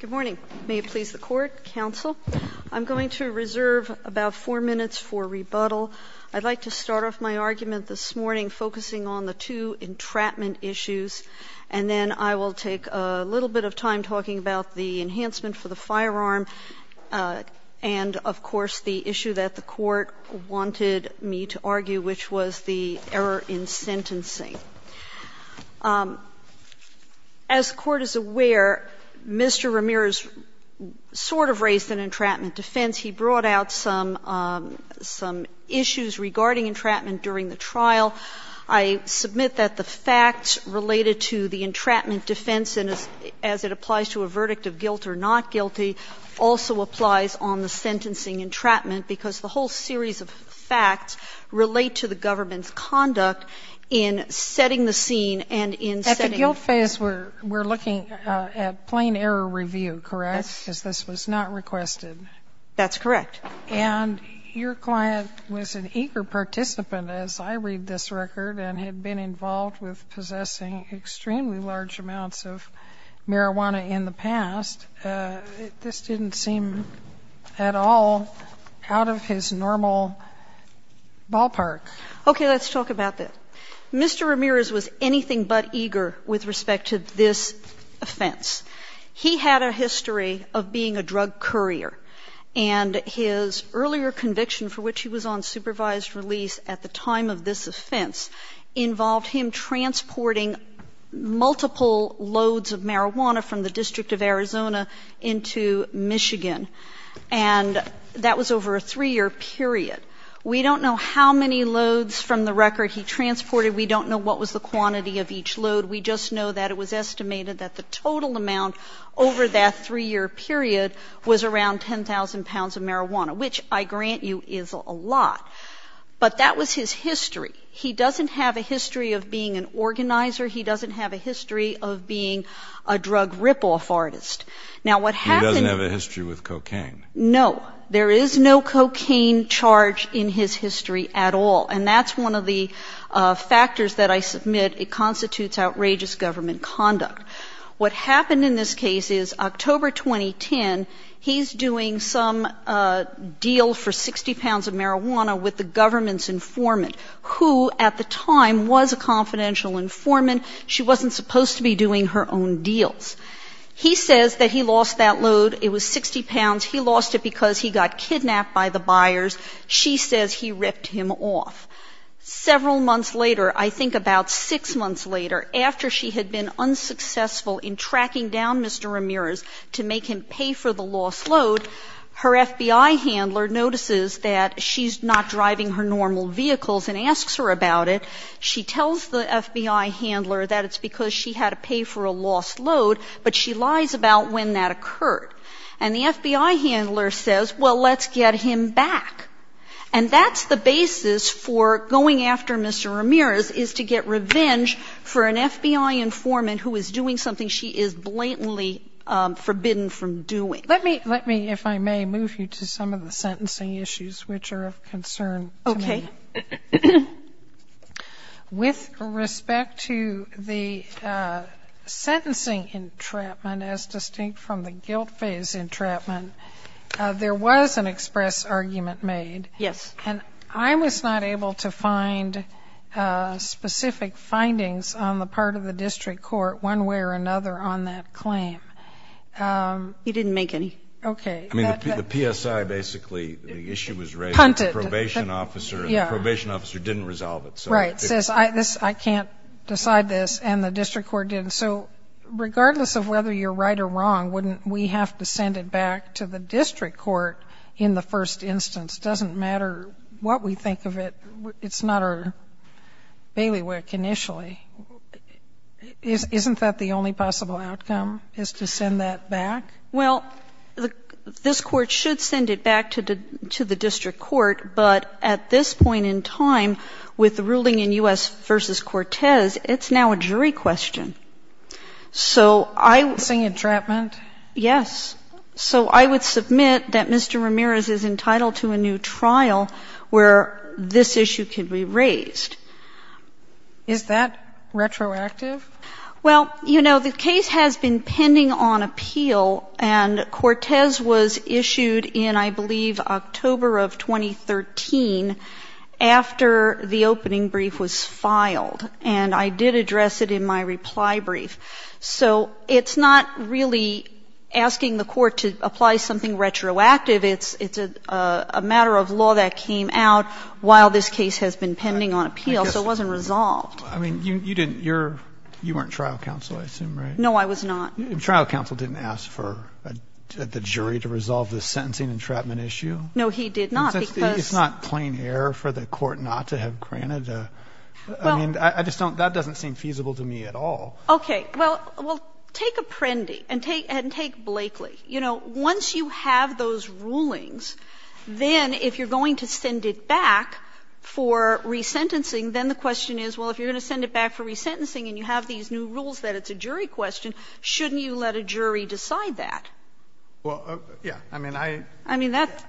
Good morning. May it please the Court, Counsel, I'm going to reserve about 4 minutes for rebuttal. I'd like to start off my argument this morning focusing on the two entrapment issues, and then I will take a little bit of time talking about the enhancement for the firearm and, of course, the issue that the Court wanted me to argue, which was the error in sentencing. As the Court is aware, Mr. Ramirez sort of raised an entrapment defense. He brought out some issues regarding entrapment during the trial. I submit that the facts related to the entrapment defense, as it applies to a verdict of guilt or not guilty, also applies on the sentencing entrapment, because the whole series of facts relate to the government's conduct in setting the scene and in setting At the guilt phase, we're looking at plain error review, correct? Yes. Because this was not requested. That's correct. And your client was an eager participant, as I read this record, and had been involved with possessing extremely large amounts of marijuana in the past. This didn't seem at all out of his normal ballpark. Okay. Let's talk about that. Mr. Ramirez was anything but eager with respect to this offense. He had a history of being a drug courier, and his earlier conviction, for which he was on supervised release at the time of this offense, involved him transporting multiple loads of marijuana from the District of Arizona into Michigan. And that was over a 3-year period. We don't know how many loads from the record he transported. We don't know what was the quantity of each load. We just know that it was estimated that the total amount over that 3-year period was around 10,000 pounds of marijuana, which, I grant you, is a lot. But that was his history. He doesn't have a history of being an organizer. He doesn't have a history of being a drug rip-off artist. Now, what happened to him was... He doesn't have a history with cocaine. No. There is no cocaine charge in his history at all. And that's one of the factors that I submit constitutes outrageous government conduct. What happened in this case is, October 2010, he's doing some deal for 60 pounds of marijuana with the government's informant, who at the time was a confidential informant. She wasn't supposed to be doing her own deals. He says that he lost that load. It was 60 pounds. He lost it because he got kidnapped by the buyers. She says he ripped him off. Several months later, I think about six months later, after she had been unsuccessful in tracking down Mr. Ramirez to make him pay for the lost load, her FBI handler notices that she's not driving her normal vehicles and asks her about it. She tells the FBI handler that it's because she had to pay for a lost load, but she lies about when that occurred. And the FBI handler says, well, let's get him back. And that's the basis for going after Mr. Ramirez is to get revenge for an FBI informant who is doing something she is blatantly forbidden from doing. Let me, if I may, move you to some of the sentencing issues which are of concern to me. Okay. With respect to the sentencing entrapment, as distinct from the guilt phase that you made, and I was not able to find specific findings on the part of the district court one way or another on that claim. He didn't make any. Okay. I mean, the PSI basically, the issue was raised. Punted. The probation officer didn't resolve it. Right. Says I can't decide this, and the district court didn't. So regardless of whether you're right or wrong, wouldn't we have to send it back to the district court in the first instance? It doesn't matter what we think of it. It's not our bailiwick initially. Isn't that the only possible outcome, is to send that back? Well, this Court should send it back to the district court, but at this point in time with the ruling in U.S. v. Cortez, it's now a jury question. So I would. Sentencing entrapment? Yes. So I would submit that Mr. Ramirez is entitled to a new trial where this issue can be raised. Is that retroactive? Well, you know, the case has been pending on appeal, and Cortez was issued in, I believe, October of 2013 after the opening brief was filed. And I did address it in my reply brief. So it's not really asking the Court to apply something retroactive. It's a matter of law that came out while this case has been pending on appeal, so it wasn't resolved. I mean, you didn't. You weren't trial counsel, I assume, right? No, I was not. Trial counsel didn't ask for the jury to resolve the sentencing entrapment issue? No, he did not, because ---- It's not plain error for the Court not to have granted a ---- Well ---- I mean, I just don't ---- that doesn't seem feasible to me at all. Okay. Well, take Apprendi and take Blakely. You know, once you have those rulings, then if you're going to send it back for resentencing, then the question is, well, if you're going to send it back for resentencing and you have these new rules that it's a jury question, shouldn't you let a jury decide that? Well, yes. I mean, I ---- I mean, that's ----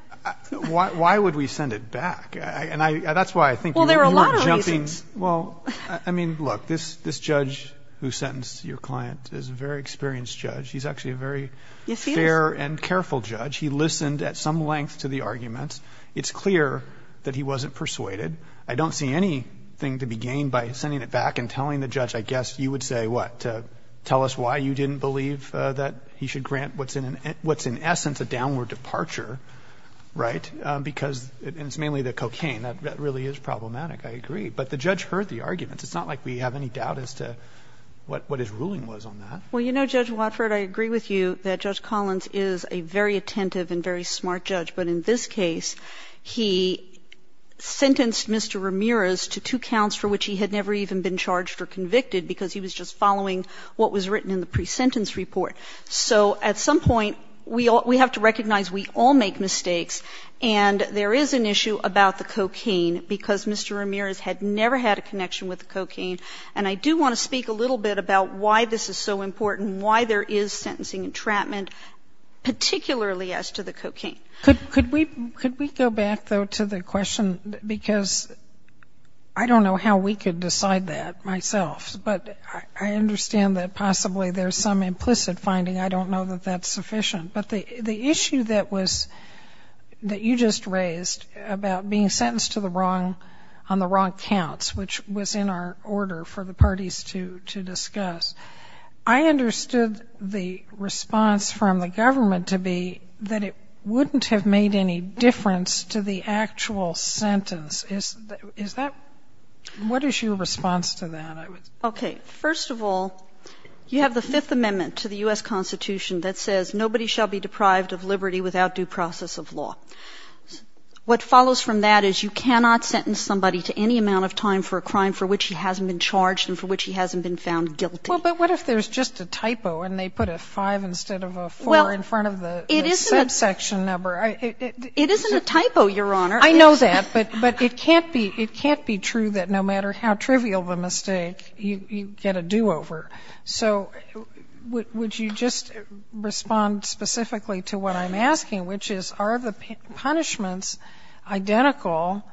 And that's why I think you were jumping ---- Well, there are a lot of reasons. Well, I mean, look, this judge who sentenced your client is a very experienced judge. He's actually a very ---- Yes, he is. ---- fair and careful judge. He listened at some length to the arguments. It's clear that he wasn't persuaded. I don't see anything to be gained by sending it back and telling the judge, I guess you would say, what, to tell us why you didn't believe that he should grant what's in essence a downward departure, right, because it's mainly the cocaine. That really is problematic. I agree. But the judge heard the arguments. It's not like we have any doubt as to what his ruling was on that. Well, you know, Judge Watford, I agree with you that Judge Collins is a very attentive and very smart judge. But in this case, he sentenced Mr. Ramirez to two counts for which he had never even been charged or convicted because he was just following what was written in the presentence report. So at some point, we have to recognize we all make mistakes and there is an issue about the cocaine because Mr. Ramirez had never had a connection with the cocaine. And I do want to speak a little bit about why this is so important, why there is sentencing entrapment, particularly as to the cocaine. Could we go back, though, to the question? Because I don't know how we could decide that myself. But I understand that possibly there's some implicit finding. I don't know that that's sufficient. But the issue that was that you just raised about being sentenced to the wrong on the wrong counts, which was in our order for the parties to discuss, I understood the response from the government to be that it wouldn't have made any difference to the actual sentence. Is that what is your response to that? Okay. First of all, you have the Fifth Amendment to the U.S. without due process of law. What follows from that is you cannot sentence somebody to any amount of time for a crime for which he hasn't been charged and for which he hasn't been found guilty. Well, but what if there's just a typo and they put a 5 instead of a 4 in front of the subsection number? It isn't a typo, Your Honor. I know that. But it can't be true that no matter how trivial the mistake, you get a do-over. So would you just respond specifically to what I'm asking, which is are the punishments identical?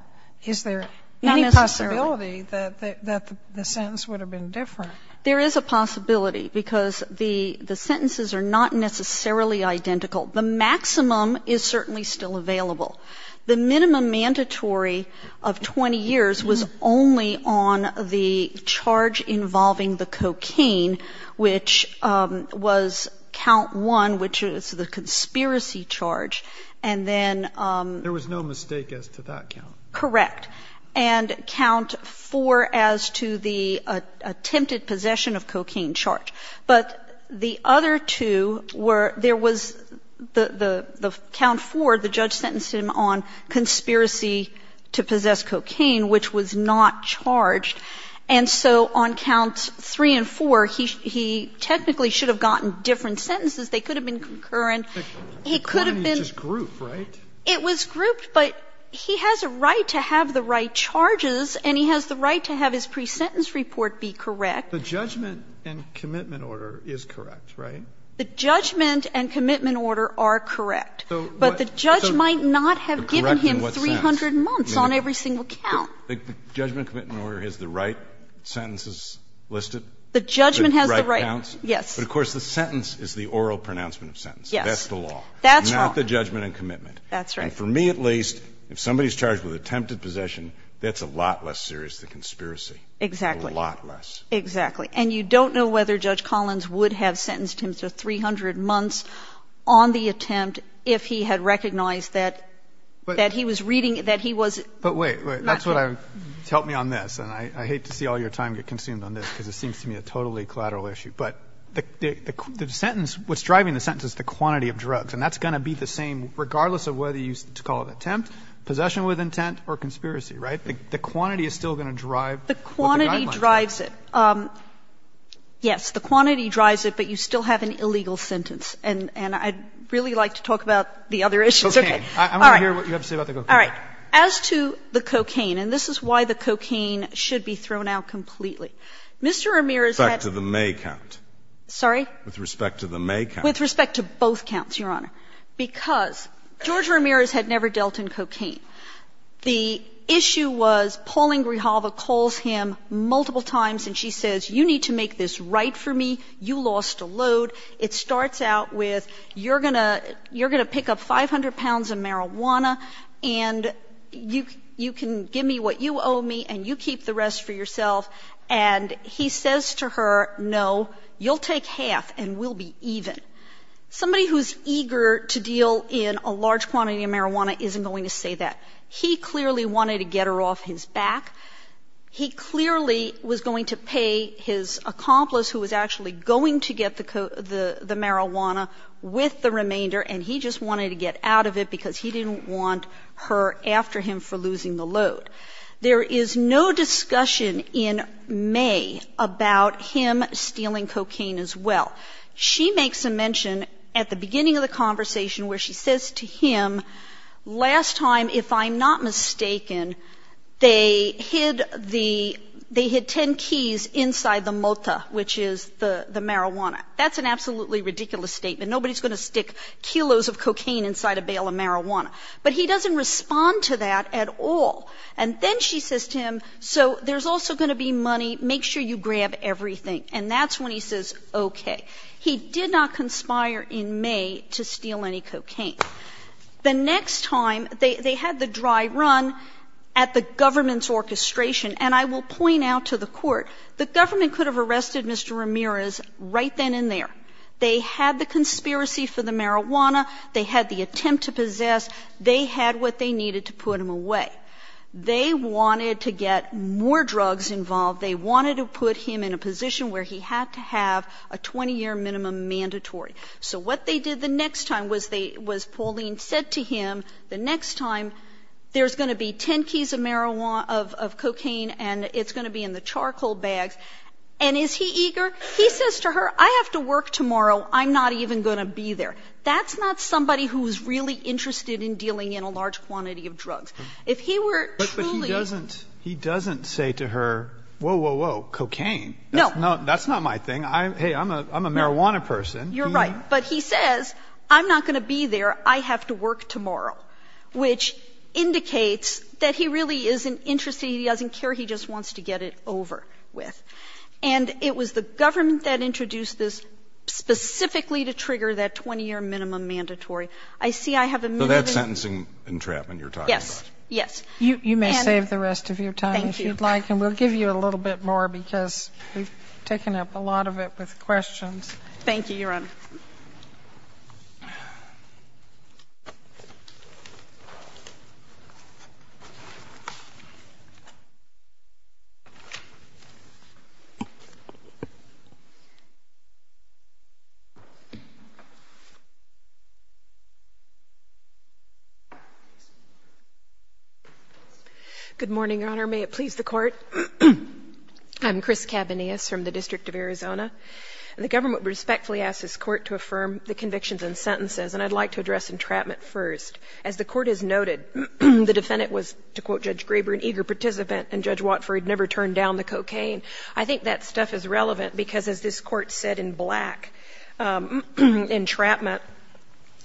Is there any possibility that the sentence would have been different? There is a possibility because the sentences are not necessarily identical. The maximum is certainly still available. The minimum mandatory of 20 years was only on the charge involving the cocaine which was count one, which is the conspiracy charge. And then ---- There was no mistake as to that count. Correct. And count four as to the attempted possession of cocaine charge. But the other two were there was the count four, the judge sentenced him on conspiracy to possess cocaine, which was not charged. And so on counts three and four, he technically should have gotten different sentences. They could have been concurrent. He could have been ---- The crime is just grouped, right? It was grouped, but he has a right to have the right charges and he has the right to have his pre-sentence report be correct. The judgment and commitment order is correct, right? The judgment and commitment order are correct. But the judge might not have given him 300 months on every single count. The judgment and commitment order has the right sentences listed? The judgment has the right. The right counts? Yes. But, of course, the sentence is the oral pronouncement of sentence. Yes. That's the law. That's wrong. Not the judgment and commitment. That's right. And for me at least, if somebody's charged with attempted possession, that's a lot less serious than conspiracy. Exactly. A lot less. Exactly. And you don't know whether Judge Collins would have sentenced him to 300 months on the attempt if he had recognized that he was reading, that he was ---- But wait, wait. That's what I'm ---- help me on this. And I hate to see all your time get consumed on this, because it seems to me a totally collateral issue. But the sentence, what's driving the sentence is the quantity of drugs. And that's going to be the same regardless of whether you call it attempt, possession with intent, or conspiracy, right? The quantity is still going to drive what the guidelines are. The quantity drives it. Yes. The quantity drives it, but you still have an illegal sentence. And I'd really like to talk about the other issues. All right. I want to hear what you have to say about the cocaine. All right. As to the cocaine, and this is why the cocaine should be thrown out completely, Mr. Ramirez had ---- With respect to the May count. Sorry? With respect to the May count. With respect to both counts, Your Honor. Because George Ramirez had never dealt in cocaine. The issue was Pauline Grijalva calls him multiple times and she says, you need to make this right for me. You lost a load. It starts out with, you're going to pick up 500 pounds of marijuana and you can give me what you owe me and you keep the rest for yourself. And he says to her, no, you'll take half and we'll be even. Somebody who's eager to deal in a large quantity of marijuana isn't going to say that. He clearly wanted to get her off his back. He clearly was going to pay his accomplice who was actually going to get the marijuana with the remainder and he just wanted to get out of it because he didn't want her after him for losing the load. There is no discussion in May about him stealing cocaine as well. She makes a mention at the beginning of the conversation where she says to him, last time, if I'm not mistaken, they hid the 10 keys inside the mota, which is the marijuana. That's an absolutely ridiculous statement. Nobody's going to stick kilos of cocaine inside a bale of marijuana. But he doesn't respond to that at all. And then she says to him, so there's also going to be money. Make sure you grab everything. And that's when he says, okay. He did not conspire in May to steal any cocaine. The next time, they had the dry run at the government's orchestration. And I will point out to the Court, the government could have arrested Mr. Ramirez right then and there. They had the conspiracy for the marijuana. They had the attempt to possess. They had what they needed to put him away. They wanted to get more drugs involved. They wanted to put him in a position where he had to have a 20-year minimum mandatory. So what they did the next time was they was Pauline said to him, the next time there's going to be 10 keys of marijuana, of cocaine, and it's going to be in the charcoal bags. And is he eager? He says to her, I have to work tomorrow. I'm not even going to be there. That's not somebody who's really interested in dealing in a large quantity of drugs. If he were truly ---- But he doesn't say to her, whoa, whoa, whoa, cocaine. No. That's not my thing. Hey, I'm a marijuana person. You're right. But he says, I'm not going to be there. I have to work tomorrow, which indicates that he really isn't interested. He doesn't care. He just wants to get it over with. And it was the government that introduced this specifically to trigger that 20-year minimum mandatory. I see I have a minimum ---- So that's sentencing entrapment you're talking about. Yes. Yes. And ---- You may save the rest of your time if you'd like. Thank you. And we'll give you a little bit more because we've taken up a lot of it with questions. Thank you, Your Honor. Good morning, Your Honor. I'm Chris Cabanillas from the District of Arizona. And the government respectfully asks this Court to affirm the convictions and sentences. And I'd like to address entrapment first. As the Court has noted, the defendant was, to quote Judge Graber, an eager participant, and Judge Watford never turned down the cocaine. I think that stuff is relevant because, as this Court said in black, entrapment,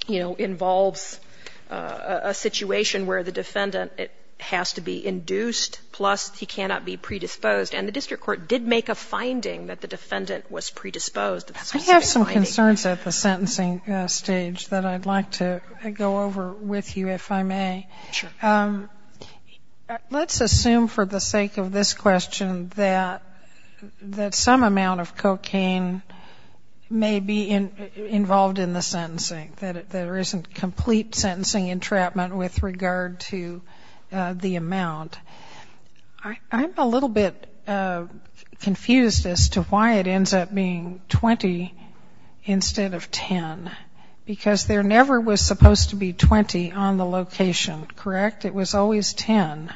you know, involves a situation where the defendant has to be induced, plus he cannot be predisposed. And the District Court did make a finding that the defendant was predisposed. I have some concerns at the sentencing stage that I'd like to go over with you, if I may. Sure. Let's assume for the sake of this question that some amount of cocaine may be involved in the sentencing, that there isn't complete sentencing entrapment with regard to the amount. I'm a little bit confused as to why it ends up being 20 instead of 10. Because there never was supposed to be 20 on the location, correct? It was always 10.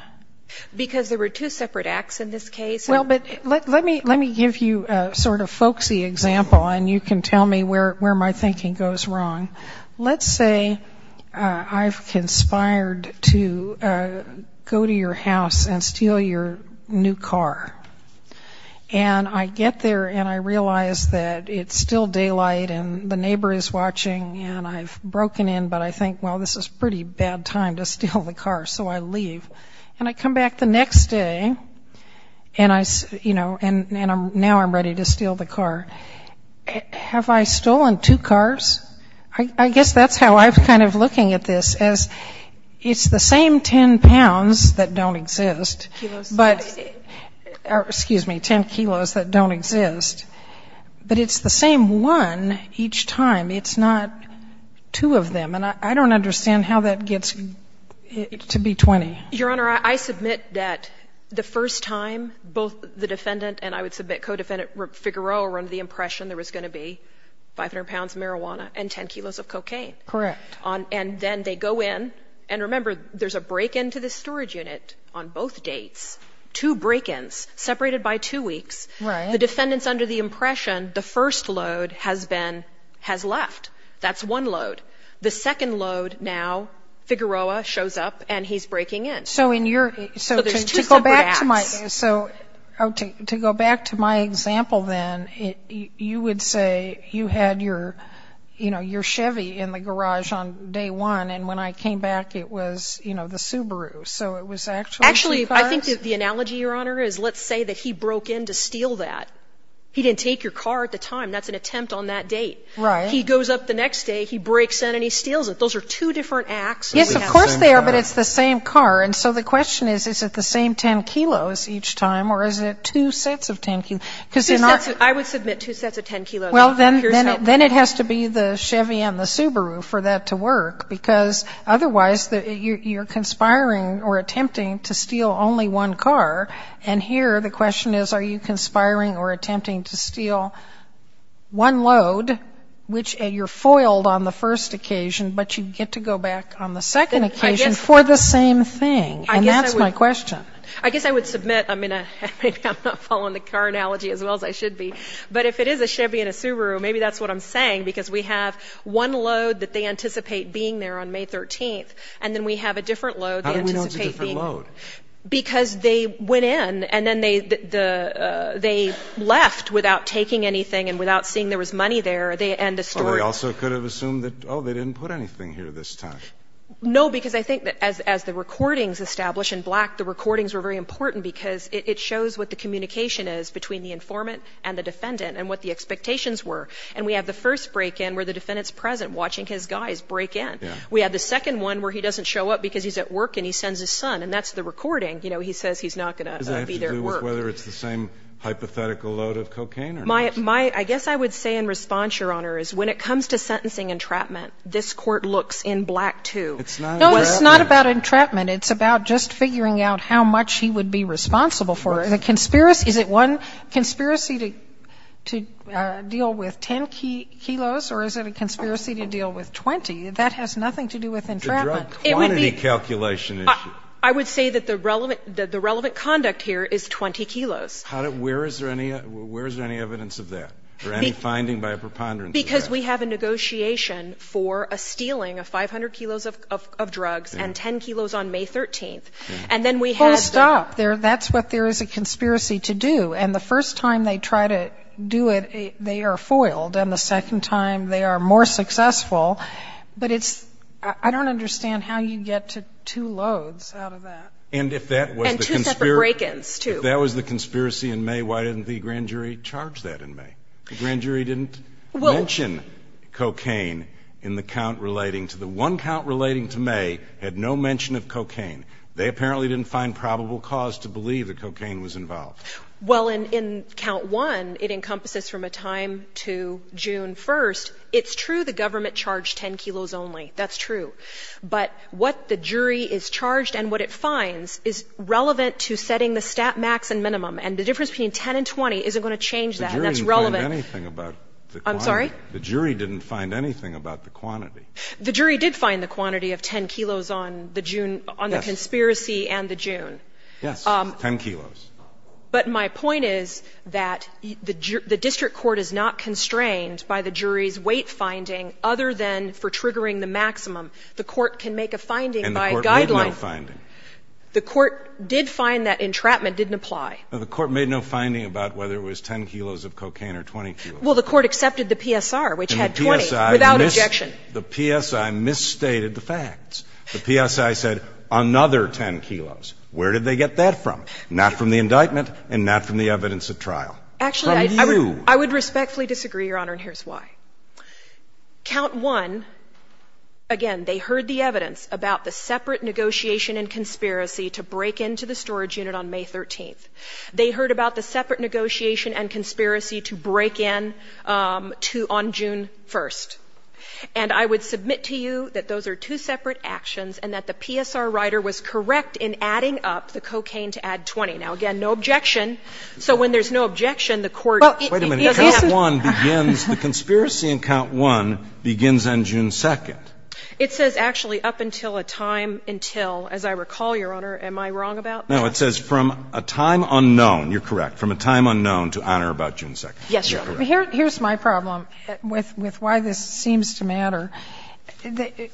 Because there were two separate acts in this case. Well, but let me give you a sort of folksy example, and you can tell me where my thinking goes wrong. Let's say I've conspired to go to your house and steal your new car. And I get there and I realize that it's still daylight and the neighbor is watching and I've broken in, but I think, well, this is pretty bad time to steal the car, so I leave. And I come back the next day and I, you know, and now I'm ready to steal the car. Have I stolen two cars? I guess that's how I'm kind of looking at this, as it's the same 10 pounds that don't exist. Kilos. Excuse me, 10 kilos that don't exist. But it's the same one each time. It's not two of them. And I don't understand how that gets to be 20. Your Honor, I submit that the first time, both the defendant and I would submit that the co-defendant, Figueroa, were under the impression there was going to be 500 pounds of marijuana and 10 kilos of cocaine. Correct. And then they go in, and remember, there's a break-in to the storage unit on both dates, two break-ins separated by two weeks. The defendant's under the impression the first load has been, has left. That's one load. The second load now, Figueroa shows up and he's breaking in. So to go back to my example then, you would say you had your Chevy in the garage on day one, and when I came back, it was the Subaru. So it was actually two cars? Actually, I think the analogy, Your Honor, is let's say that he broke in to steal that. He didn't take your car at the time. That's an attempt on that date. Right. He goes up the next day, he breaks in, and he steals it. Those are two different acts. Yes, of course they are, but it's the same car. And so the question is, is it the same 10 kilos each time, or is it two sets of 10 kilos? I would submit two sets of 10 kilos. Well, then it has to be the Chevy and the Subaru for that to work, because otherwise you're conspiring or attempting to steal only one car. And here the question is, are you conspiring or attempting to steal one load, which you're foiled on the first occasion, but you get to go back on the second occasion for the same thing? And that's my question. I guess I would submit, I mean, maybe I'm not following the car analogy as well as I should be, but if it is a Chevy and a Subaru, maybe that's what I'm saying, because we have one load that they anticipate being there on May 13th, and then we have a different load. How do we know it's a different load? Because they went in, and then they left without taking anything and without seeing there was money there. They end the story. They also could have assumed that, oh, they didn't put anything here this time. No, because I think that as the recordings establish in black, the recordings were very important because it shows what the communication is between the informant and the defendant and what the expectations were. And we have the first break-in where the defendant's present watching his guys break in. Yeah. We have the second one where he doesn't show up because he's at work and he sends his son, and that's the recording. You know, he says he's not going to be there at work. Does it have to do with whether it's the same hypothetical load of cocaine or not? I guess I would say in response, Your Honor, is when it comes to sentencing entrapment, this Court looks in black, too. It's not entrapment. No, it's not about entrapment. It's about just figuring out how much he would be responsible for it. Is it one conspiracy to deal with 10 kilos, or is it a conspiracy to deal with 20? That has nothing to do with entrapment. It's a drug quantity calculation issue. I would say that the relevant conduct here is 20 kilos. Where is there any evidence of that or any finding by a preponderance of that? Because we have a negotiation for a stealing of 500 kilos of drugs and 10 kilos on May 13th. And then we have the ---- Well, stop. That's what there is a conspiracy to do. And the first time they try to do it, they are foiled. And the second time, they are more successful. But it's ---- I don't understand how you get to two loads out of that. And if that was the conspiracy ---- And two separate break-ins, too. If that was the conspiracy in May, why didn't the grand jury charge that in May? The grand jury didn't mention cocaine in the count relating to the one count relating to May had no mention of cocaine. They apparently didn't find probable cause to believe that cocaine was involved. Well, in count one, it encompasses from a time to June 1st. It's true the government charged 10 kilos only. That's true. But what the jury is charged and what it finds is relevant to setting the stat max and minimum. And the difference between 10 and 20 isn't going to change that. And that's relevant ---- The jury didn't find anything about the quantity. I'm sorry? The jury didn't find anything about the quantity. The jury did find the quantity of 10 kilos on the June ---- Yes. On the conspiracy and the June. Yes. 10 kilos. But my point is that the district court is not constrained by the jury's weight finding other than for triggering the maximum. The court can make a finding by a guideline. And the court made no finding. The court did find that entrapment didn't apply. Well, the court made no finding about whether it was 10 kilos of cocaine or 20 kilos. Well, the court accepted the PSR, which had 20. And the PSI ---- Without objection. The PSI misstated the facts. The PSI said another 10 kilos. Where did they get that from? Not from the indictment and not from the evidence at trial. Actually, I would respectfully disagree, Your Honor, and here's why. Count 1, again, they heard the evidence about the separate negotiation and conspiracy to break into the storage unit on May 13th. They heard about the separate negotiation and conspiracy to break in to ---- on June 1st. And I would submit to you that those are two separate actions and that the PSR writer was correct in adding up the cocaine to add 20. Now, again, no objection. So when there's no objection, the court ---- The conspiracy in Count 1 begins on June 2nd. It says actually up until a time until. As I recall, Your Honor, am I wrong about that? No. It says from a time unknown. You're correct. From a time unknown to honor about June 2nd. Yes, Your Honor. Here's my problem with why this seems to matter.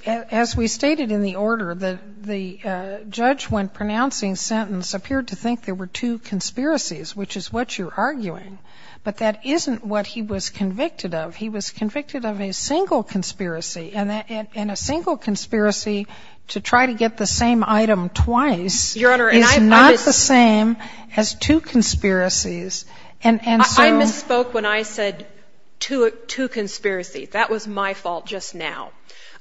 As we stated in the order, the judge when pronouncing sentence appeared to think there were two conspiracies, which is what you're arguing. But that isn't what he was convicted of. He was convicted of a single conspiracy. And a single conspiracy to try to get the same item twice is not the same as two conspiracies. And so ---- I misspoke when I said two conspiracies. That was my fault just now.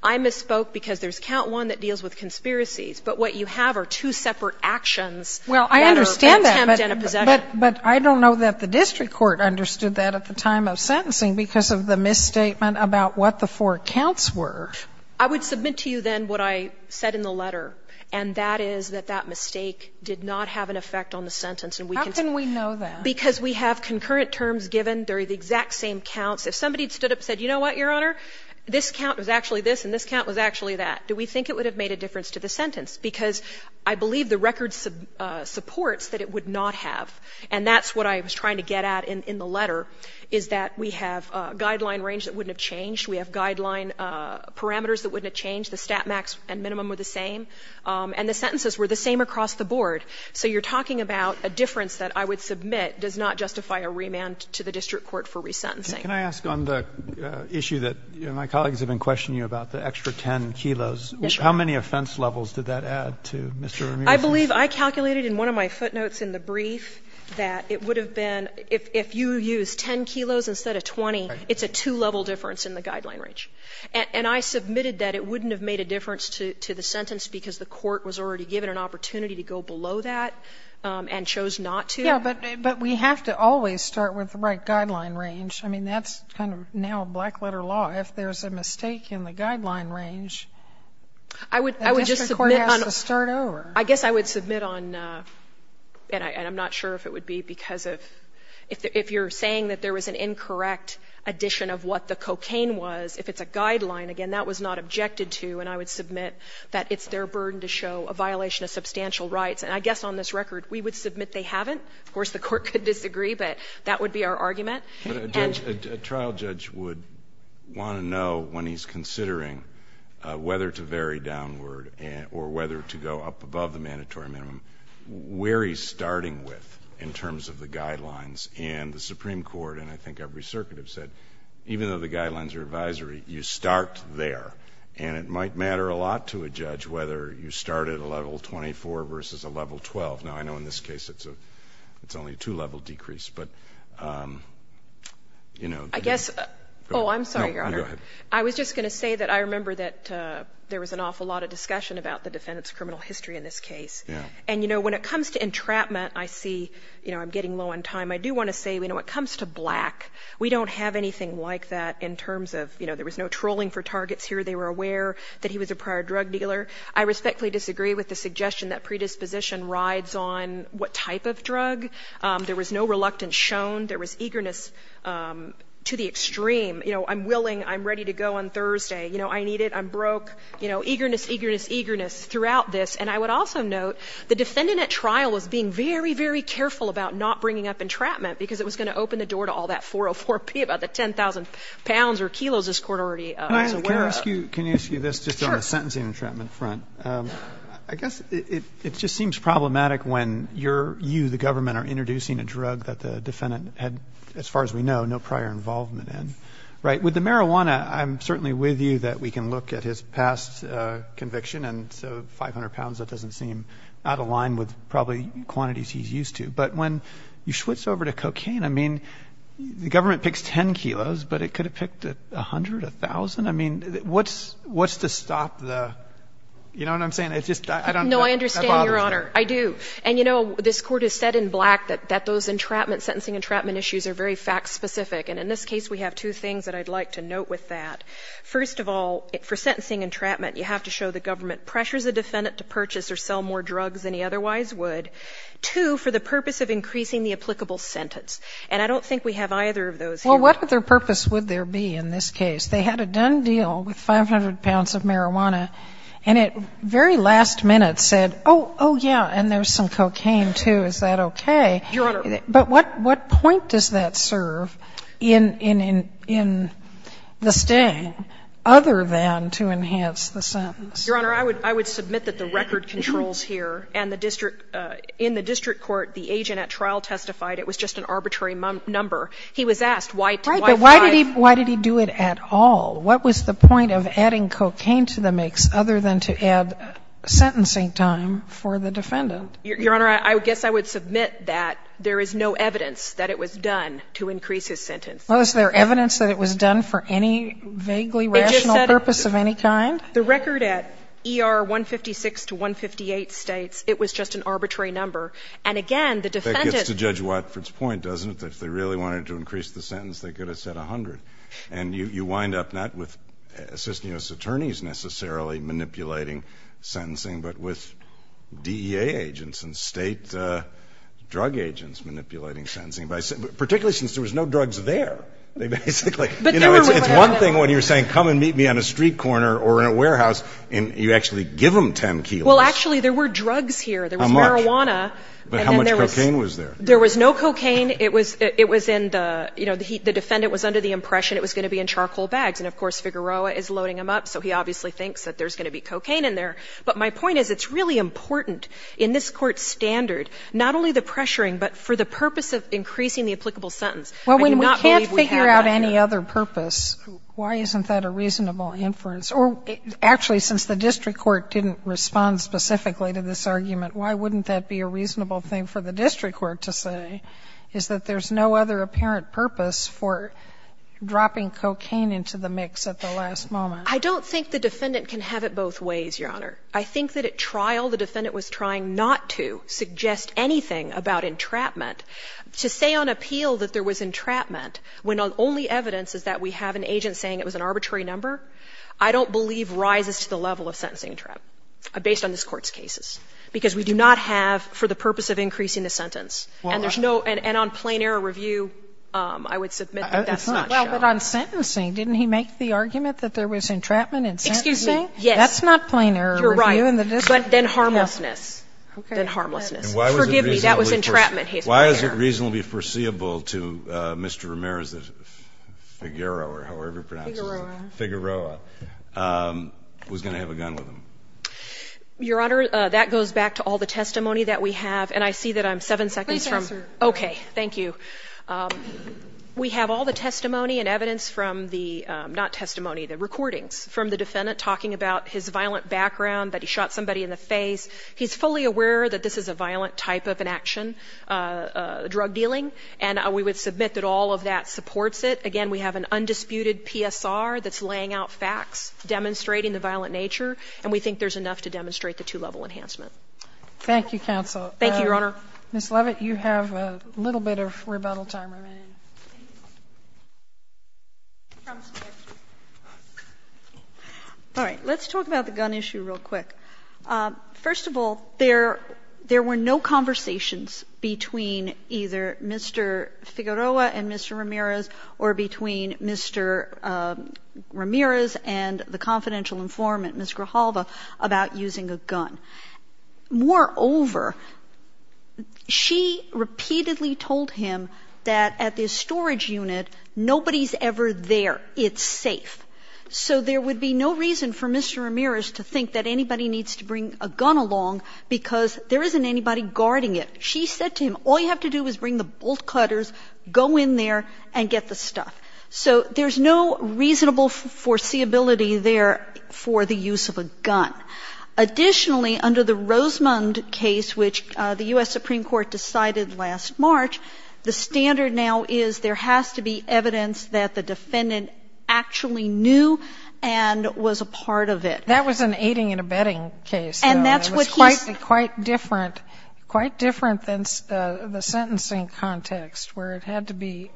I misspoke because there's Count 1 that deals with conspiracies. But what you have are two separate actions that are an attempt and a possession. Well, I understand that. But I don't know that the district court understood that at the time of sentencing because of the misstatement about what the four counts were. I would submit to you then what I said in the letter, and that is that that mistake did not have an effect on the sentence. And we can say ---- How can we know that? Because we have concurrent terms given during the exact same counts. If somebody had stood up and said, you know what, Your Honor, this count was actually this and this count was actually that, do we think it would have made a difference to the sentence? Because I believe the record supports that it would not have. And that's what I was trying to get at in the letter, is that we have guideline range that wouldn't have changed. We have guideline parameters that wouldn't have changed. The stat max and minimum were the same. And the sentences were the same across the board. So you're talking about a difference that I would submit does not justify a remand to the district court for resentencing. Can I ask on the issue that my colleagues have been questioning you about, the extra 10 kilos. Yes, Your Honor. How many offense levels did that add to, Mr. Ramirez? I believe I calculated in one of my footnotes in the brief that it would have been if you used 10 kilos instead of 20, it's a two-level difference in the guideline range. And I submitted that it wouldn't have made a difference to the sentence because the court was already given an opportunity to go below that and chose not to. Yes, but we have to always start with the right guideline range. I mean, that's kind of now black-letter law. If there's a mistake in the guideline range, the district court has to start over. I guess I would submit on, and I'm not sure if it would be because of, if you're saying that there was an incorrect addition of what the cocaine was, if it's a guideline, again, that was not objected to, and I would submit that it's their burden to show a violation of substantial rights. And I guess on this record, we would submit they haven't. Of course, the court could disagree, but that would be our argument. But a trial judge would want to know when he's considering whether to vary downward or whether to go up above the mandatory minimum, where he's starting with in terms of the guidelines. And the Supreme Court, and I think every circuit have said, even though the guidelines are advisory, you start there. And it might matter a lot to a judge whether you start at a level 24 versus a level 12. Now, I know in this case, it's only a two-level decrease, but, you know. I guess, oh, I'm sorry, Your Honor. No, go ahead. I was just going to say that I remember that there was an awful lot of discussion about the defendant's criminal history in this case. Yeah. And, you know, when it comes to entrapment, I see, you know, I'm getting low on time. I do want to say, you know, when it comes to black, we don't have anything like that in terms of, you know, there was no trolling for targets here. They were aware that he was a prior drug dealer. I respectfully disagree with the suggestion that predisposition rides on what type of drug. There was no reluctance shown. There was eagerness to the extreme. You know, I'm willing, I'm ready to go on Thursday. You know, I need it. You know, eagerness, eagerness, eagerness throughout this. And I would also note the defendant at trial was being very, very careful about not bringing up entrapment because it was going to open the door to all that 404P about the 10,000 pounds or kilos this Court already was aware of. Can I ask you this just on the sentencing entrapment front? I guess it just seems problematic when you, the government, are introducing a drug that the defendant had, as far as we know, no prior involvement in. Right? With the marijuana, I'm certainly with you that we can look at his past conviction and so 500 pounds, that doesn't seem out of line with probably quantities he's used to. But when you switch over to cocaine, I mean, the government picks 10 kilos, but it could have picked 100, 1,000. I mean, what's to stop the, you know what I'm saying? It's just, I don't know. No, I understand, Your Honor. I do. And, you know, this Court has said in black that those entrapment, sentencing entrapment issues are very fact-specific. And in this case, we have two things that I'd like to note with that. First of all, for sentencing entrapment, you have to show the government pressures a defendant to purchase or sell more drugs than he otherwise would. Two, for the purpose of increasing the applicable sentence. And I don't think we have either of those here. Well, what other purpose would there be in this case? They had a done deal with 500 pounds of marijuana. And at very last minute said, oh, yeah, and there's some cocaine, too. Is that okay? Your Honor. But what point does that serve in the staying, other than to enhance the sentence? Your Honor, I would submit that the record controls here and the district, in the district court, the agent at trial testified it was just an arbitrary number. He was asked why five. Why did he do it at all? What was the point of adding cocaine to the mix, other than to add sentencing time for the defendant? Your Honor, I guess I would submit that there is no evidence that it was done to increase his sentence. Well, is there evidence that it was done for any vaguely rational purpose of any kind? The record at ER 156 to 158 states it was just an arbitrary number. And again, the defendant. That gets to Judge Watford's point, doesn't it? If they really wanted to increase the sentence, they could have said 100. And you wind up not with assistant U.S. attorneys necessarily manipulating sentencing, but with DEA agents and state drug agents manipulating sentencing, particularly since there was no drugs there. They basically. But there was. It's one thing when you're saying come and meet me on a street corner or in a warehouse and you actually give them 10 kilos. Well, actually, there were drugs here. How much? There was marijuana. But how much cocaine was there? There was no cocaine. It was in the, you know, the defendant was under the impression it was going to be in charcoal bags. And, of course, Figueroa is loading them up, so he obviously thinks that there's going to be cocaine in there. But my point is it's really important in this Court's standard, not only the pressuring, but for the purpose of increasing the applicable sentence. I do not believe we have that here. Well, when we can't figure out any other purpose, why isn't that a reasonable inference? Or actually, since the district court didn't respond specifically to this argument, why wouldn't that be a reasonable thing for the district court to say, is that there's no other apparent purpose for dropping cocaine into the mix at the last moment? I don't think the defendant can have it both ways, Your Honor. I think that at trial the defendant was trying not to suggest anything about entrapment. To say on appeal that there was entrapment when only evidence is that we have an agent saying it was an arbitrary number, I don't believe rises to the level of sentencing entrapment based on this Court's cases, because we do not have for the purpose of increasing the sentence. And there's no – and on plain error review, I would submit that that's not shown. Well, but on sentencing, didn't he make the argument that there was entrapment in sentencing? Excuse me? That's not plain error review in the district court. You're right, but then harmlessness. Okay. Then harmlessness. Forgive me, that was entrapment. Why is it reasonably foreseeable to Mr. Ramirez that Figueroa, or however he pronounces it, Figueroa, was going to have a gun with him? Your Honor, that goes back to all the testimony that we have. And I see that I'm seven seconds from – Please answer. Okay. Thank you. We have all the testimony and evidence from the – not testimony, the recordings from the defendant talking about his violent background, that he shot somebody in the face. He's fully aware that this is a violent type of an action, drug dealing, and we would submit that all of that supports it. Again, we have an undisputed PSR that's laying out facts demonstrating the violent nature, and we think there's enough to demonstrate the two-level enhancement. Thank you, counsel. Thank you, Your Honor. Ms. Leavitt, you have a little bit of rebuttal time remaining. All right. Let's talk about the gun issue real quick. First of all, there were no conversations between either Mr. Figueroa and Mr. Ramirez or between Mr. Ramirez and the confidential informant, Ms. Grijalva, about using a gun. Moreover, she repeatedly told him that at the storage unit, nobody's ever there. It's safe. So there would be no reason for Mr. Ramirez to think that anybody needs to bring a gun along because there isn't anybody guarding it. She said to him, all you have to do is bring the bolt cutters, go in there, and get the stuff. So there's no reasonable foreseeability there for the use of a gun. Additionally, under the Rosemond case, which the U.S. Supreme Court decided last March, the standard now is there has to be evidence that the defendant actually knew and was a part of it. That was an aiding and abetting case. So it was quite different, quite different than the sentencing context, where it had to be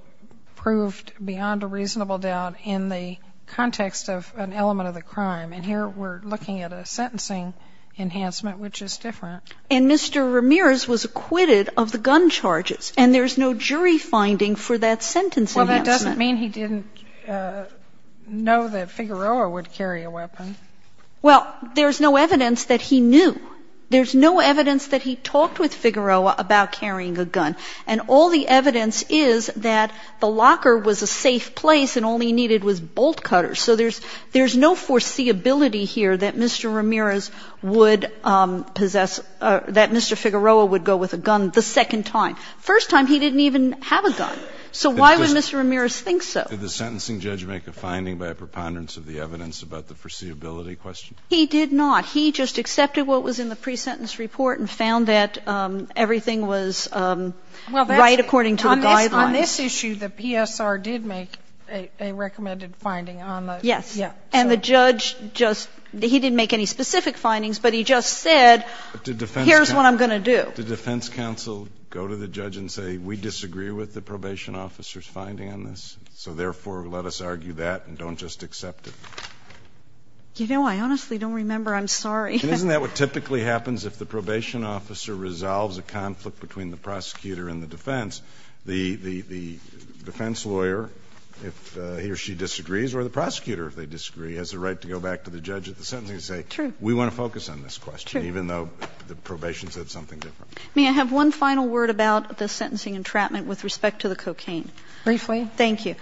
proved beyond a reasonable doubt in the context of an element of the crime. And here we're looking at a sentencing enhancement, which is different. And Mr. Ramirez was acquitted of the gun charges, and there's no jury finding for that sentence enhancement. Well, that doesn't mean he didn't know that Figueroa would carry a weapon. Well, there's no evidence that he knew. There's no evidence that he talked with Figueroa about carrying a gun. And all the evidence is that the locker was a safe place and all he needed was bolt cutters. So there's no foreseeability here that Mr. Ramirez would possess or that Mr. Figueroa would go with a gun the second time. First time, he didn't even have a gun. So why would Mr. Ramirez think so? Did the sentencing judge make a finding by a preponderance of the evidence about the foreseeability question? He did not. He just accepted what was in the pre-sentence report and found that everything was right according to the guidelines. Well, on this issue, the PSR did make a recommended finding on those. Yes. And the judge just he didn't make any specific findings, but he just said here's what I'm going to do. Did defense counsel go to the judge and say we disagree with the probation officer's findings on this, so therefore let us argue that and don't just accept it? You know, I honestly don't remember. I'm sorry. Isn't that what typically happens if the probation officer resolves a conflict between the prosecutor and the defense? The defense lawyer, if he or she disagrees, or the prosecutor, if they disagree, has the right to go back to the judge at the sentencing and say we want to focus on this question, even though the probation said something different. May I have one final word about the sentencing entrapment with respect to the cocaine? Briefly. Thank you.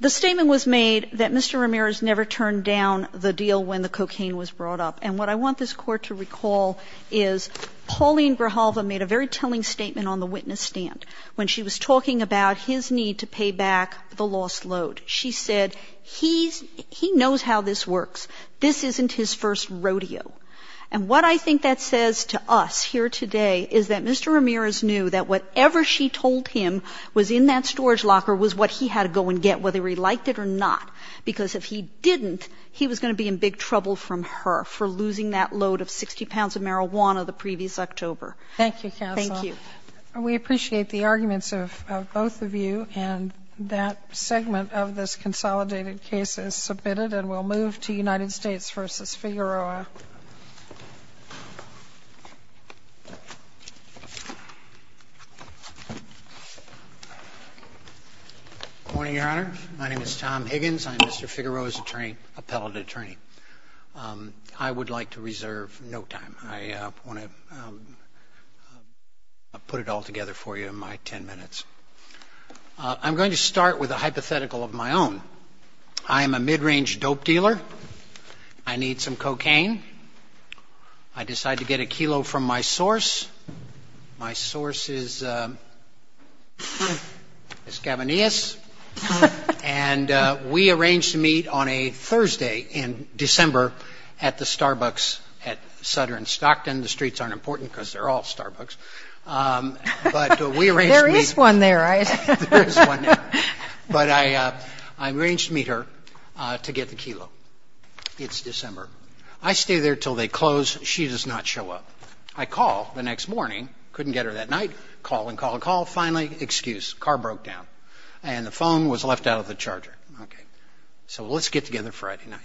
The statement was made that Mr. Ramirez never turned down the deal when the cocaine was brought up. And what I want this Court to recall is Pauline Grijalva made a very telling statement on the witness stand when she was talking about his need to pay back the lost load. She said he knows how this works. This isn't his first rodeo. And what I think that says to us here today is that Mr. Ramirez knew that whatever she told him was in that storage locker was what he had to go and get, whether he liked it or not. Because if he didn't, he was going to be in big trouble from her for losing that load of 60 pounds of marijuana the previous October. Thank you, counsel. Thank you. We appreciate the arguments of both of you. And that segment of this consolidated case is submitted and we'll move to United States v. Figueroa. Good morning, Your Honor. My name is Tom Higgins. I'm Mr. Figueroa's appellate attorney. I would like to reserve no time. I want to put it all together for you in my ten minutes. I'm going to start with a hypothetical of my own. I am a mid-range dope dealer. I need some cocaine. I decide to get a kilo from my source. My source is Gavinius. And we arranged to meet on a Thursday in December at the Starbucks at Sutter in Stockton. The streets aren't important because they're all Starbucks. But we arranged to meet. There is one there, right? There is one there. But I arranged to meet her to get the kilo. It's December. I stay there until they close. She does not show up. I call the next morning. Couldn't get her that night. Call and call and call. Finally, excuse. Car broke down. And the phone was left out of the charger. Okay. So let's get together Friday night.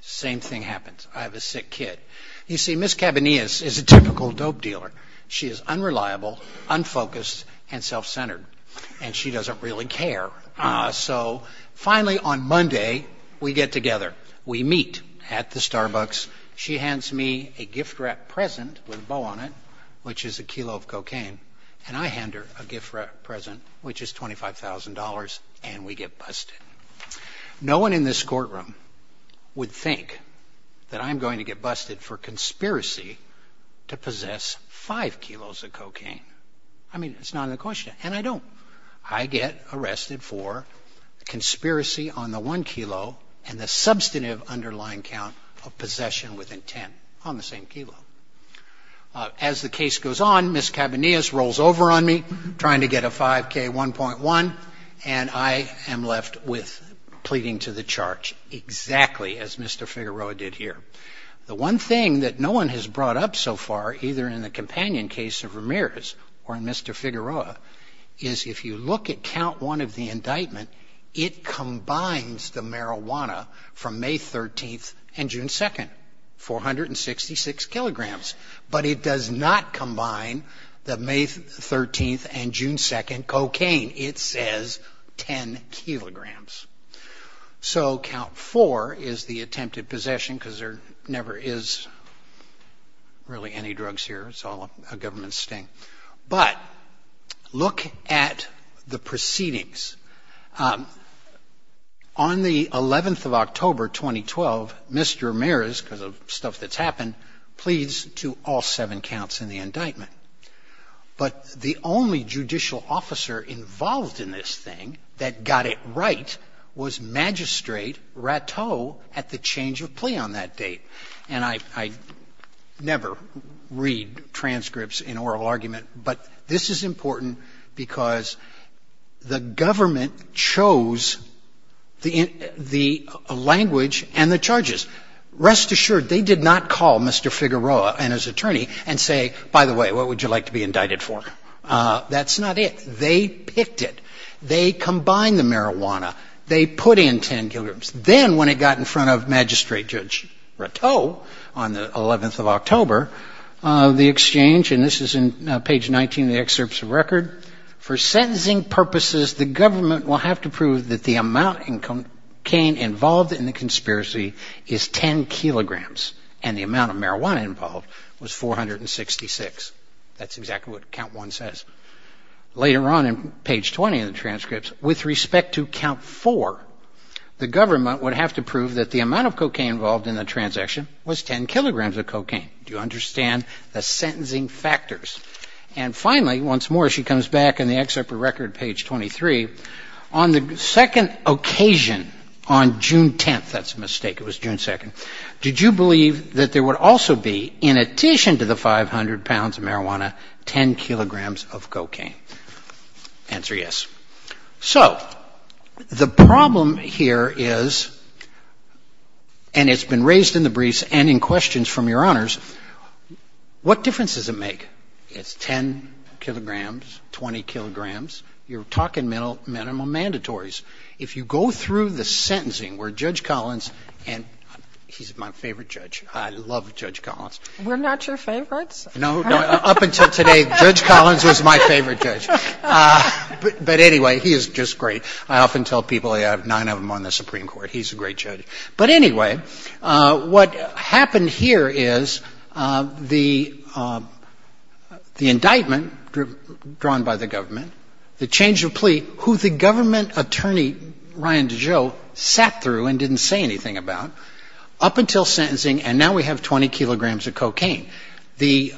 Same thing happens. I have a sick kid. You see, Ms. Gavinius is a typical dope dealer. She is unreliable, unfocused, and self-centered. And she doesn't really care. So finally on Monday, we get together. We meet at the Starbucks. She hands me a gift-wrapped present with a bow on it, which is a kilo of cocaine. And I hand her a gift-wrapped present, which is $25,000. And we get busted. No one in this courtroom would think that I'm going to get busted for conspiracy to possess five kilos of cocaine. I mean, it's not an equation. And I don't. I get arrested for conspiracy on the one kilo and the substantive underlying count of possession within ten on the same kilo. As the case goes on, Ms. Gavinius rolls over on me, trying to get a 5K 1.1, and I am left with pleading to the charge, exactly as Mr. Figueroa did here. The one thing that no one has brought up so far, either in the companion case of Ramirez or in Mr. Figueroa, is if you look at count one of the indictment, it combines the marijuana from May 13th and June 2nd. 466 kilograms. But it does not combine the May 13th and June 2nd cocaine. It says 10 kilograms. So count four is the attempted possession because there never is really any drugs here. It's all a government sting. But look at the proceedings. On the 11th of October, 2012, Mr. Ramirez, because of stuff that's happened, pleads to all seven counts in the indictment. But the only judicial officer involved in this thing that got it right was Magistrate Ratteau at the change of plea on that date. And I never read transcripts in oral argument, but this is important because the government chose the language and the charges. Rest assured, they did not call Mr. Figueroa and his attorney and say, by the way, what would you like to be indicted for? That's not it. They picked it. They combined the marijuana. They put in 10 kilograms. Then when it got in front of Magistrate Judge Ratteau on the 11th of October, the exchange, and this is in page 19 of the excerpts of record, for sentencing purposes, the government will have to prove that the amount in cocaine involved in the conspiracy is 10 kilograms, and the amount of marijuana involved was 466. That's exactly what count 1 says. Later on in page 20 of the transcripts, with respect to count 4, the government would have to prove that the amount of cocaine involved in the transaction was 10 kilograms of cocaine. Do you understand the sentencing factors? And finally, once more, she comes back in the excerpt of record, page 23. On the second occasion, on June 10th, that's a mistake. It was June 2nd. Did you believe that there would also be, in addition to the 500 pounds of marijuana, 10 kilograms of cocaine? Answer yes. So the problem here is, and it's been raised in the briefs and in questions from Your Honors, what difference does it make? It's 10 kilograms, 20 kilograms. You're talking minimal mandatories. If you go through the sentencing where Judge Collins, and he's my favorite judge. I love Judge Collins. We're not your favorites? No, no. Up until today, Judge Collins was my favorite judge. But anyway, he is just great. I often tell people I have nine of them on the Supreme Court. He's a great judge. But anyway, what happened here is the indictment drawn by the government, the change of plea, who the government attorney, Ryan DeJoe, sat through and didn't say anything about, up until sentencing, and now we have 20 kilograms of cocaine. The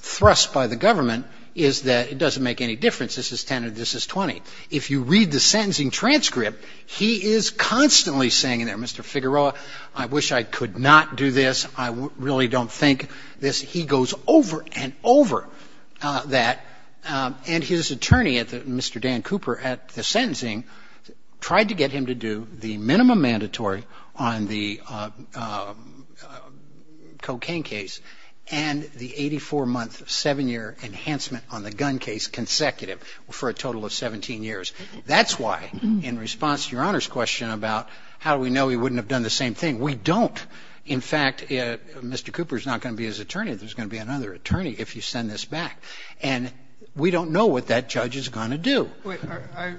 thrust by the government is that it doesn't make any difference. This is 10 or this is 20. If you read the sentencing transcript, he is constantly saying, Mr. Figueroa, I wish I could not do this. I really don't think this. He goes over and over that. And his attorney, Mr. Dan Cooper, at the sentencing, tried to get him to do the minimum mandatory on the cocaine case and the 84-month, 7-year enhancement on the gun case consecutive for a total of 17 years. That's why, in response to Your Honor's question about how do we know he wouldn't have done the same thing, we don't. In fact, Mr. Cooper is not going to be his attorney. There's going to be another attorney if you send this back. And we don't know what that judge is going to do. I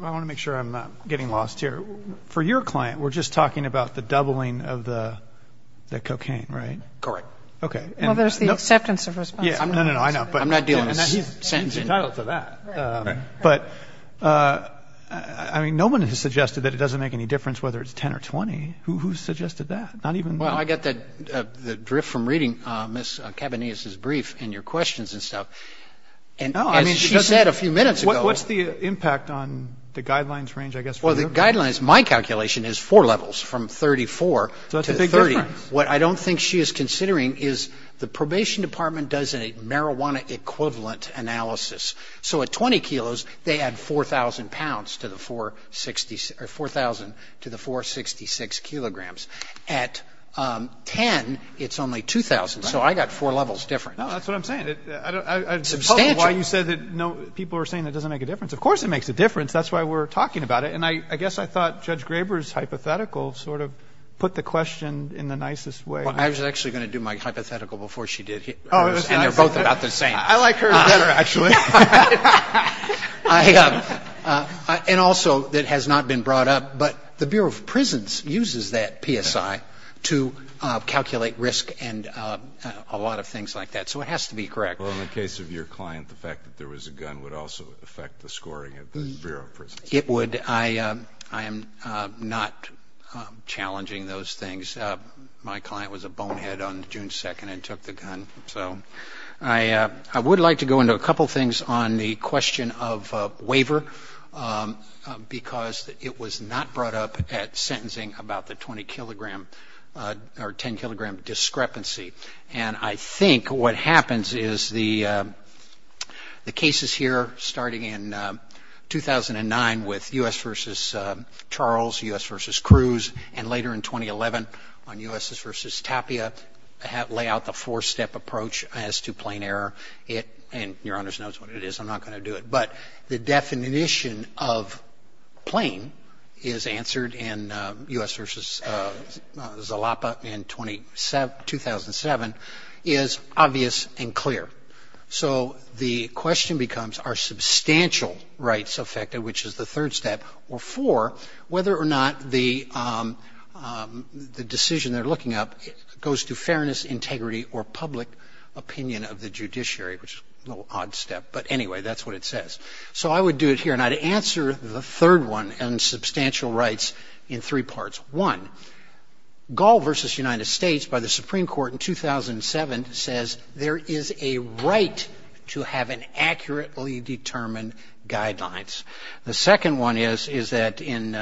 want to make sure I'm not getting lost here. For your client, we're just talking about the doubling of the cocaine, right? Correct. Well, there's the acceptance of responsibility. I'm not dealing with sentencing. He's entitled to that. But, I mean, no one has suggested that it doesn't make any difference whether it's 10 or 20. Who suggested that? Not even them. Well, I got the drift from reading Ms. Cabanillas' brief and your questions and stuff. As she said a few minutes ago. What's the impact on the guidelines range, I guess? Well, the guidelines, my calculation is four levels from 34 to 30. So that's a big difference. What I don't think she is considering is the probation department does a marijuana equivalent analysis. So at 20 kilos, they add 4,000 pounds to the 460 or 4,000 to the 466 kilograms. At 10, it's only 2,000. So I got four levels different. No, that's what I'm saying. Substantial. I don't know why you said that people are saying it doesn't make a difference. Of course it makes a difference. That's why we're talking about it. And I guess I thought Judge Graber's hypothetical sort of put the question in the nicest way. Well, I was actually going to do my hypothetical before she did. And they're both about the same. I like hers better, actually. And also, it has not been brought up, but the Bureau of Prisons uses that PSI to calculate risk and a lot of things like that. So it has to be correct. Well, in the case of your client, the fact that there was a gun would also affect the scoring at the Bureau of Prisons. It would. I am not challenging those things. My client was a bonehead on June 2nd and took the gun. So I would like to go into a couple things on the question of waiver, because it was not brought up at sentencing about the 20-kilogram or 10-kilogram discrepancy. And I think what happens is the cases here starting in 2009 with U.S. v. Charles, U.S. v. Cruz, and later in 2011 on U.S. v. Tapia lay out the four-step approach as to plane error. And Your Honors knows what it is. I'm not going to do it. But the definition of plane is answered in U.S. v. Zalapa in 2007 is obvious and clear. So the question becomes are substantial rights affected, which is the third step, or four, whether or not the decision they're looking at goes to fairness, integrity, or public opinion of the judiciary, which is a little odd step. But anyway, that's what it says. So I would do it here. And I'd answer the third one on substantial rights in three parts. One, Gall v. United States by the Supreme Court in 2007 says there is a right to have an accurately determined guidelines. The second one is that in,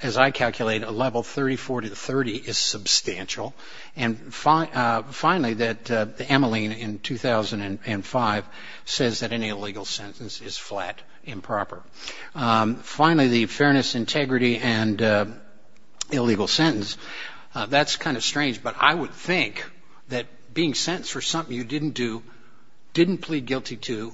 as I calculate, a level 34 to 30 is substantial. And finally, that Emmeline in 2005 says that any illegal sentence is flat, improper. Finally, the fairness, integrity, and illegal sentence, that's kind of strange. But I would think that being sentenced for something you didn't do, didn't plead guilty to,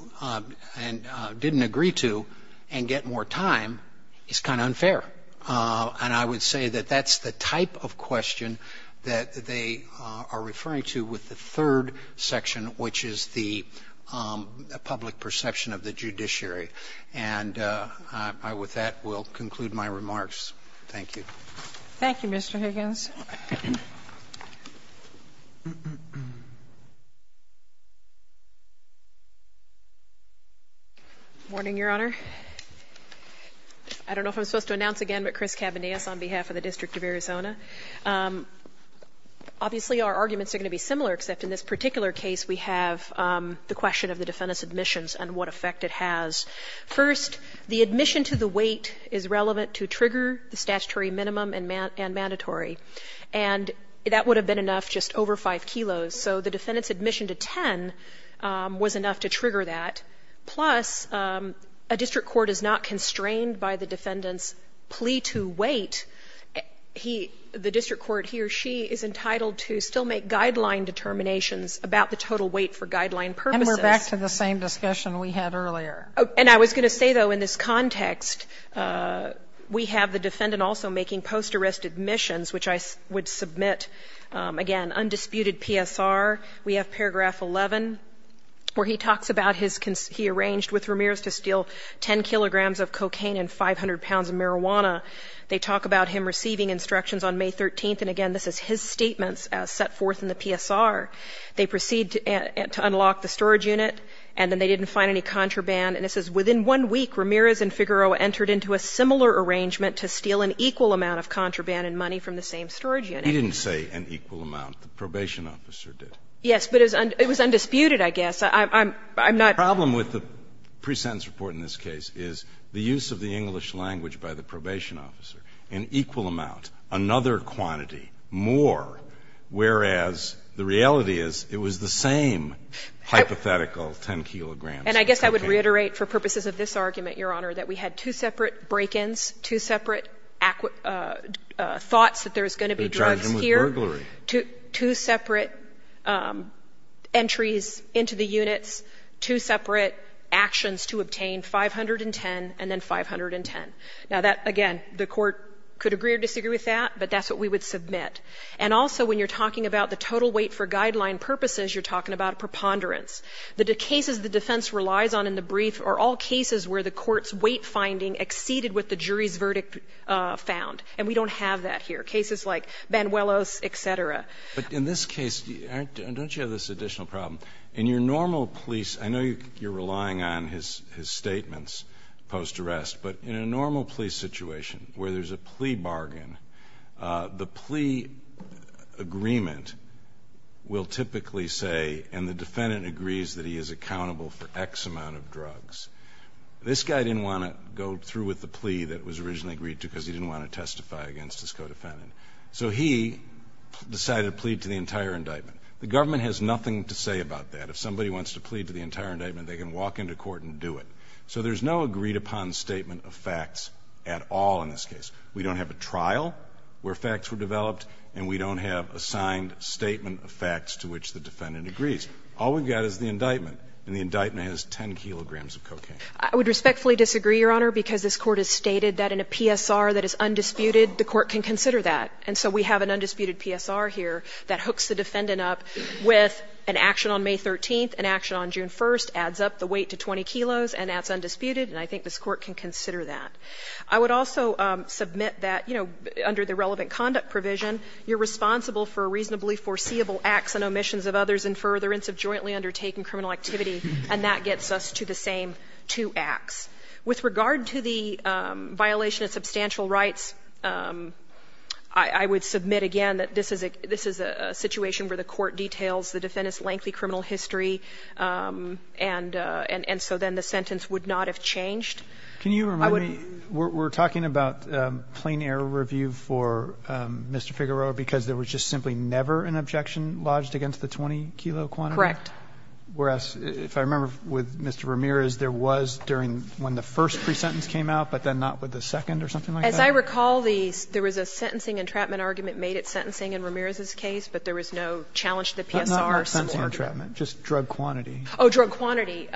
and didn't agree to and get more time is kind of unfair. And I would say that that's the type of question that they are referring to with the third section, which is the public perception of the judiciary. And with that, we'll conclude my remarks. Thank you. Thank you, Mr. Higgins. Morning, Your Honor. I don't know if I'm supposed to announce again, but Chris Cabanez on behalf of the District of Arizona. Obviously, our arguments are going to be similar, except in this particular case we have the question of the defendant's admissions and what effect it has. First, the admission to the weight is relevant to trigger the statutory minimum and mandatory. And that would have been enough just over 5 kilos. So the defendant's admission to 10 was enough to trigger that. Plus, a district court is not constrained by the defendant's plea to weight. He, the district court, he or she is entitled to still make guideline determinations about the total weight for guideline purposes. And we're back to the same discussion we had earlier. And I was going to say, though, in this context, we have the defendant also making post-arrest admissions, which I would submit, again, undisputed PSR. We have paragraph 11 where he talks about his, he arranged with Ramirez to steal 10 kilograms of cocaine and 500 pounds of marijuana. They talk about him receiving instructions on May 13th. And, again, this is his statements set forth in the PSR. They proceed to unlock the storage unit, and then they didn't find any contraband. And it says, Within one week, Ramirez and Figueroa entered into a similar arrangement to steal an equal amount of contraband and money from the same storage unit. We didn't say an equal amount. The probation officer did. Yes, but it was undisputed, I guess. I'm not. The problem with the pre-sentence report in this case is the use of the English language by the probation officer, an equal amount, another quantity, more, whereas the reality is it was the same hypothetical 10 kilograms of cocaine. And I guess I would reiterate for purposes of this argument, Your Honor, that we had two separate break-ins, two separate thoughts that there's going to be drugs here. They're charging him with burglary. Two separate entries into the units, two separate actions to obtain, 510 and then 510. Now, that, again, the Court could agree or disagree with that, but that's what we would submit. And also when you're talking about the total weight for guideline purposes, you're talking about preponderance. The cases the defense relies on in the brief are all cases where the Court's weight finding exceeded what the jury's verdict found. And we don't have that here. Cases like Banuelos, et cetera. But in this case, don't you have this additional problem? In your normal police, I know you're relying on his statements post-arrest, but in a normal police situation where there's a plea bargain, the plea agreement will typically say, and the defendant agrees that he is accountable for X amount of drugs. This guy didn't want to go through with the plea that was originally agreed to because he didn't want to testify against his co-defendant. So he decided to plead to the entire indictment. The government has nothing to say about that. If somebody wants to plead to the entire indictment, they can walk into court and do it. So there's no agreed-upon statement of facts at all in this case. We don't have a trial where facts were developed, and we don't have a signed statement of facts to which the defendant agrees. All we've got is the indictment, and the indictment has 10 kilograms of cocaine. I would respectfully disagree, Your Honor, because this Court has stated that in a PSR that is undisputed, the Court can consider that. And so we have an undisputed PSR here that hooks the defendant up with an action on May 13th, an action on June 1st, adds up the weight to 20 kilos, and that's undisputed, and I think this Court can consider that. I would also submit that, you know, under the relevant conduct provision, you're responsible for reasonably foreseeable acts and omissions of others in furtherance of jointly undertaken criminal activity, and that gets us to the same two acts. With regard to the violation of substantial rights, I would submit again that this is a situation where the court details the defendant's lengthy criminal history and so then the sentence would not have changed. Can you remind me? We're talking about plain error review for Mr. Figueroa because there was just simply never an objection lodged against the 20-kilo quantity? Correct. Whereas, if I remember with Mr. Ramirez, there was during when the first pre-sentence came out, but then not with the second or something like that? As I recall, there was a sentencing entrapment argument made at sentencing in Ramirez's case, but there was no challenge to the PSR. Not sentencing entrapment, just drug quantity. Oh, drug quantity.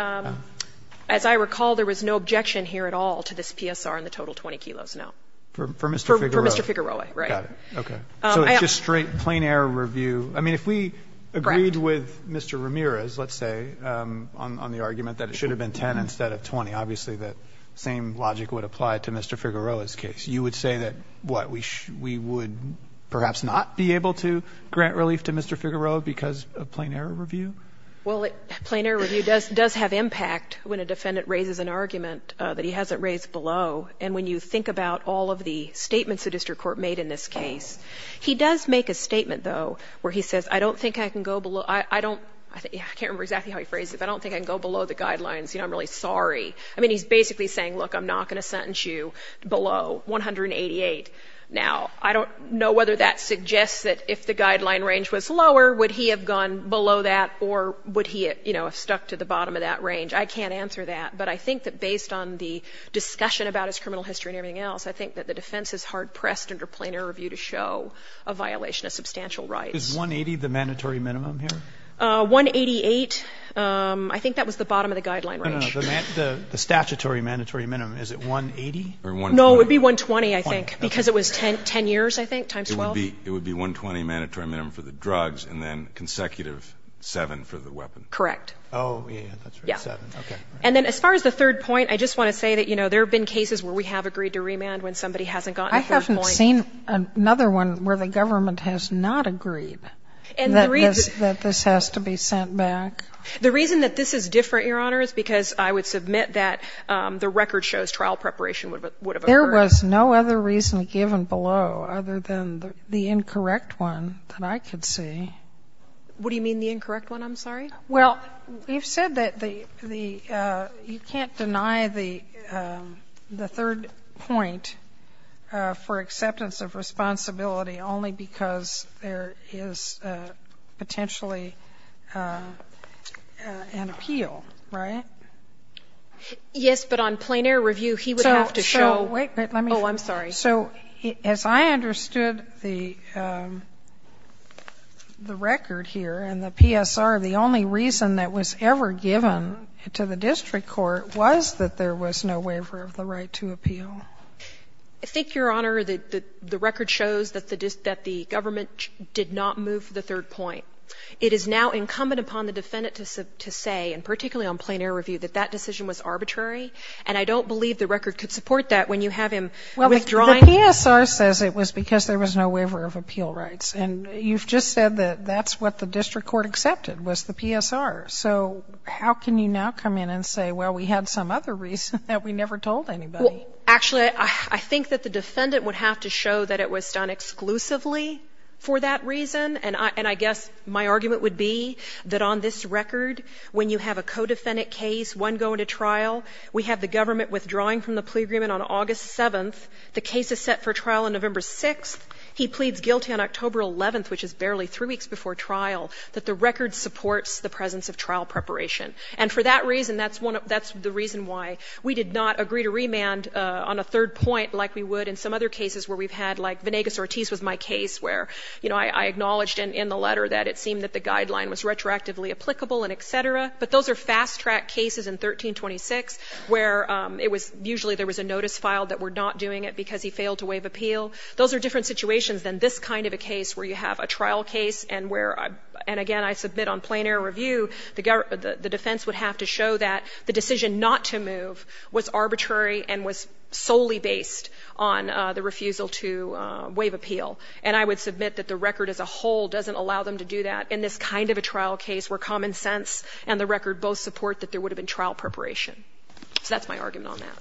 As I recall, there was no objection here at all to this PSR and the total 20 kilos, no. For Mr. Figueroa. For Mr. Figueroa, right. Got it. Okay. So it's just straight plain error review. Correct. I mean, if we agreed with Mr. Ramirez, let's say, on the argument that it should have been 10 instead of 20, obviously that same logic would apply to Mr. Figueroa's case. You would say that, what, we would perhaps not be able to grant relief to Mr. Figueroa because of plain error review? Well, plain error review does have impact when a defendant raises an argument that he hasn't raised below, and when you think about all of the statements the district court made in this case. He does make a statement, though, where he says, I don't think I can go below I don't, I can't remember exactly how he phrased it, but I don't think I can go below the guidelines. You know, I'm really sorry. I mean, he's basically saying, look, I'm not going to sentence you below 188. Now, I don't know whether that suggests that if the guideline range was lower, would he have gone below that or would he, you know, have stuck to the bottom of that range. I can't answer that, but I think that based on the discussion about his criminal history and everything else, I think that the defense is hard-pressed under plain error review to show a violation of substantial rights. Is 180 the mandatory minimum here? 188, I think that was the bottom of the guideline range. No, no, no. The statutory mandatory minimum, is it 180 or 120? No, it would be 120, I think, because it was 10 years, I think, times 12. It would be 120 mandatory minimum for the drugs and then consecutive 7 for the weapon. Correct. Oh, yeah, that's right, 7. Yeah. Okay. And then as far as the third point, I just want to say that, you know, there have been cases where we have agreed to remand when somebody hasn't gotten the third point. I haven't seen another one where the government has not agreed that this has to be sent back. The reason that this is different, Your Honor, is because I would submit that the record shows trial preparation would have occurred. There was no other reason given below other than the incorrect one that I could see. What do you mean, the incorrect one, I'm sorry? Well, you've said that the you can't deny the third point for acceptance of responsibility only because there is potentially an appeal, right? Yes, but on plein air review, he would have to show. Wait, let me. Oh, I'm sorry. So as I understood the record here and the PSR, the only reason that was ever given to the district court was that there was no waiver of the right to appeal. I think, Your Honor, the record shows that the government did not move the third point. It is now incumbent upon the defendant to say, and particularly on plein air review, that that decision was arbitrary, and I don't believe the record could support that when you have him withdrawing. Well, the PSR says it was because there was no waiver of appeal rights. And you've just said that that's what the district court accepted was the PSR. So how can you now come in and say, well, we had some other reason that we never told anybody? Well, actually, I think that the defendant would have to show that it was done exclusively for that reason. And I guess my argument would be that on this record, when you have a co-defendant case, one going to trial, we have the government withdrawing from the plea agreement on August 7th. The case is set for trial on November 6th. He pleads guilty on October 11th, which is barely three weeks before trial, that the record supports the presence of trial preparation. And for that reason, that's the reason why we did not agree to remand on a third point like we would in some other cases where we've had, like, Vanegas-Ortiz was my case where, you know, I acknowledged in the letter that it seemed that the guideline was retroactively applicable and et cetera. But those are fast-track cases in 1326 where it was usually there was a notice filed that we're not doing it because he failed to waive appeal. Those are different situations than this kind of a case where you have a trial case and where, and again, I submit on plain air review, the defense would have to show that the decision not to move was arbitrary and was solely based on the refusal to waive appeal. And I would submit that the record as a whole doesn't allow them to do that in this kind of a trial case where common sense and the record both support that there would have been trial preparation. So that's my argument on that.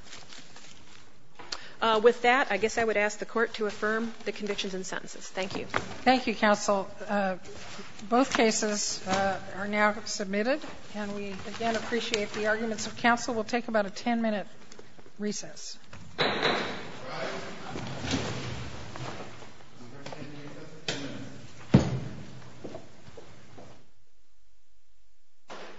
With that, I guess I would ask the Court to affirm the convictions and sentences. Thank you. Thank you, counsel. Both cases are now submitted, and we again appreciate the arguments of counsel. We'll take about a 10-minute recess. All right. We're going to take another 10 minutes.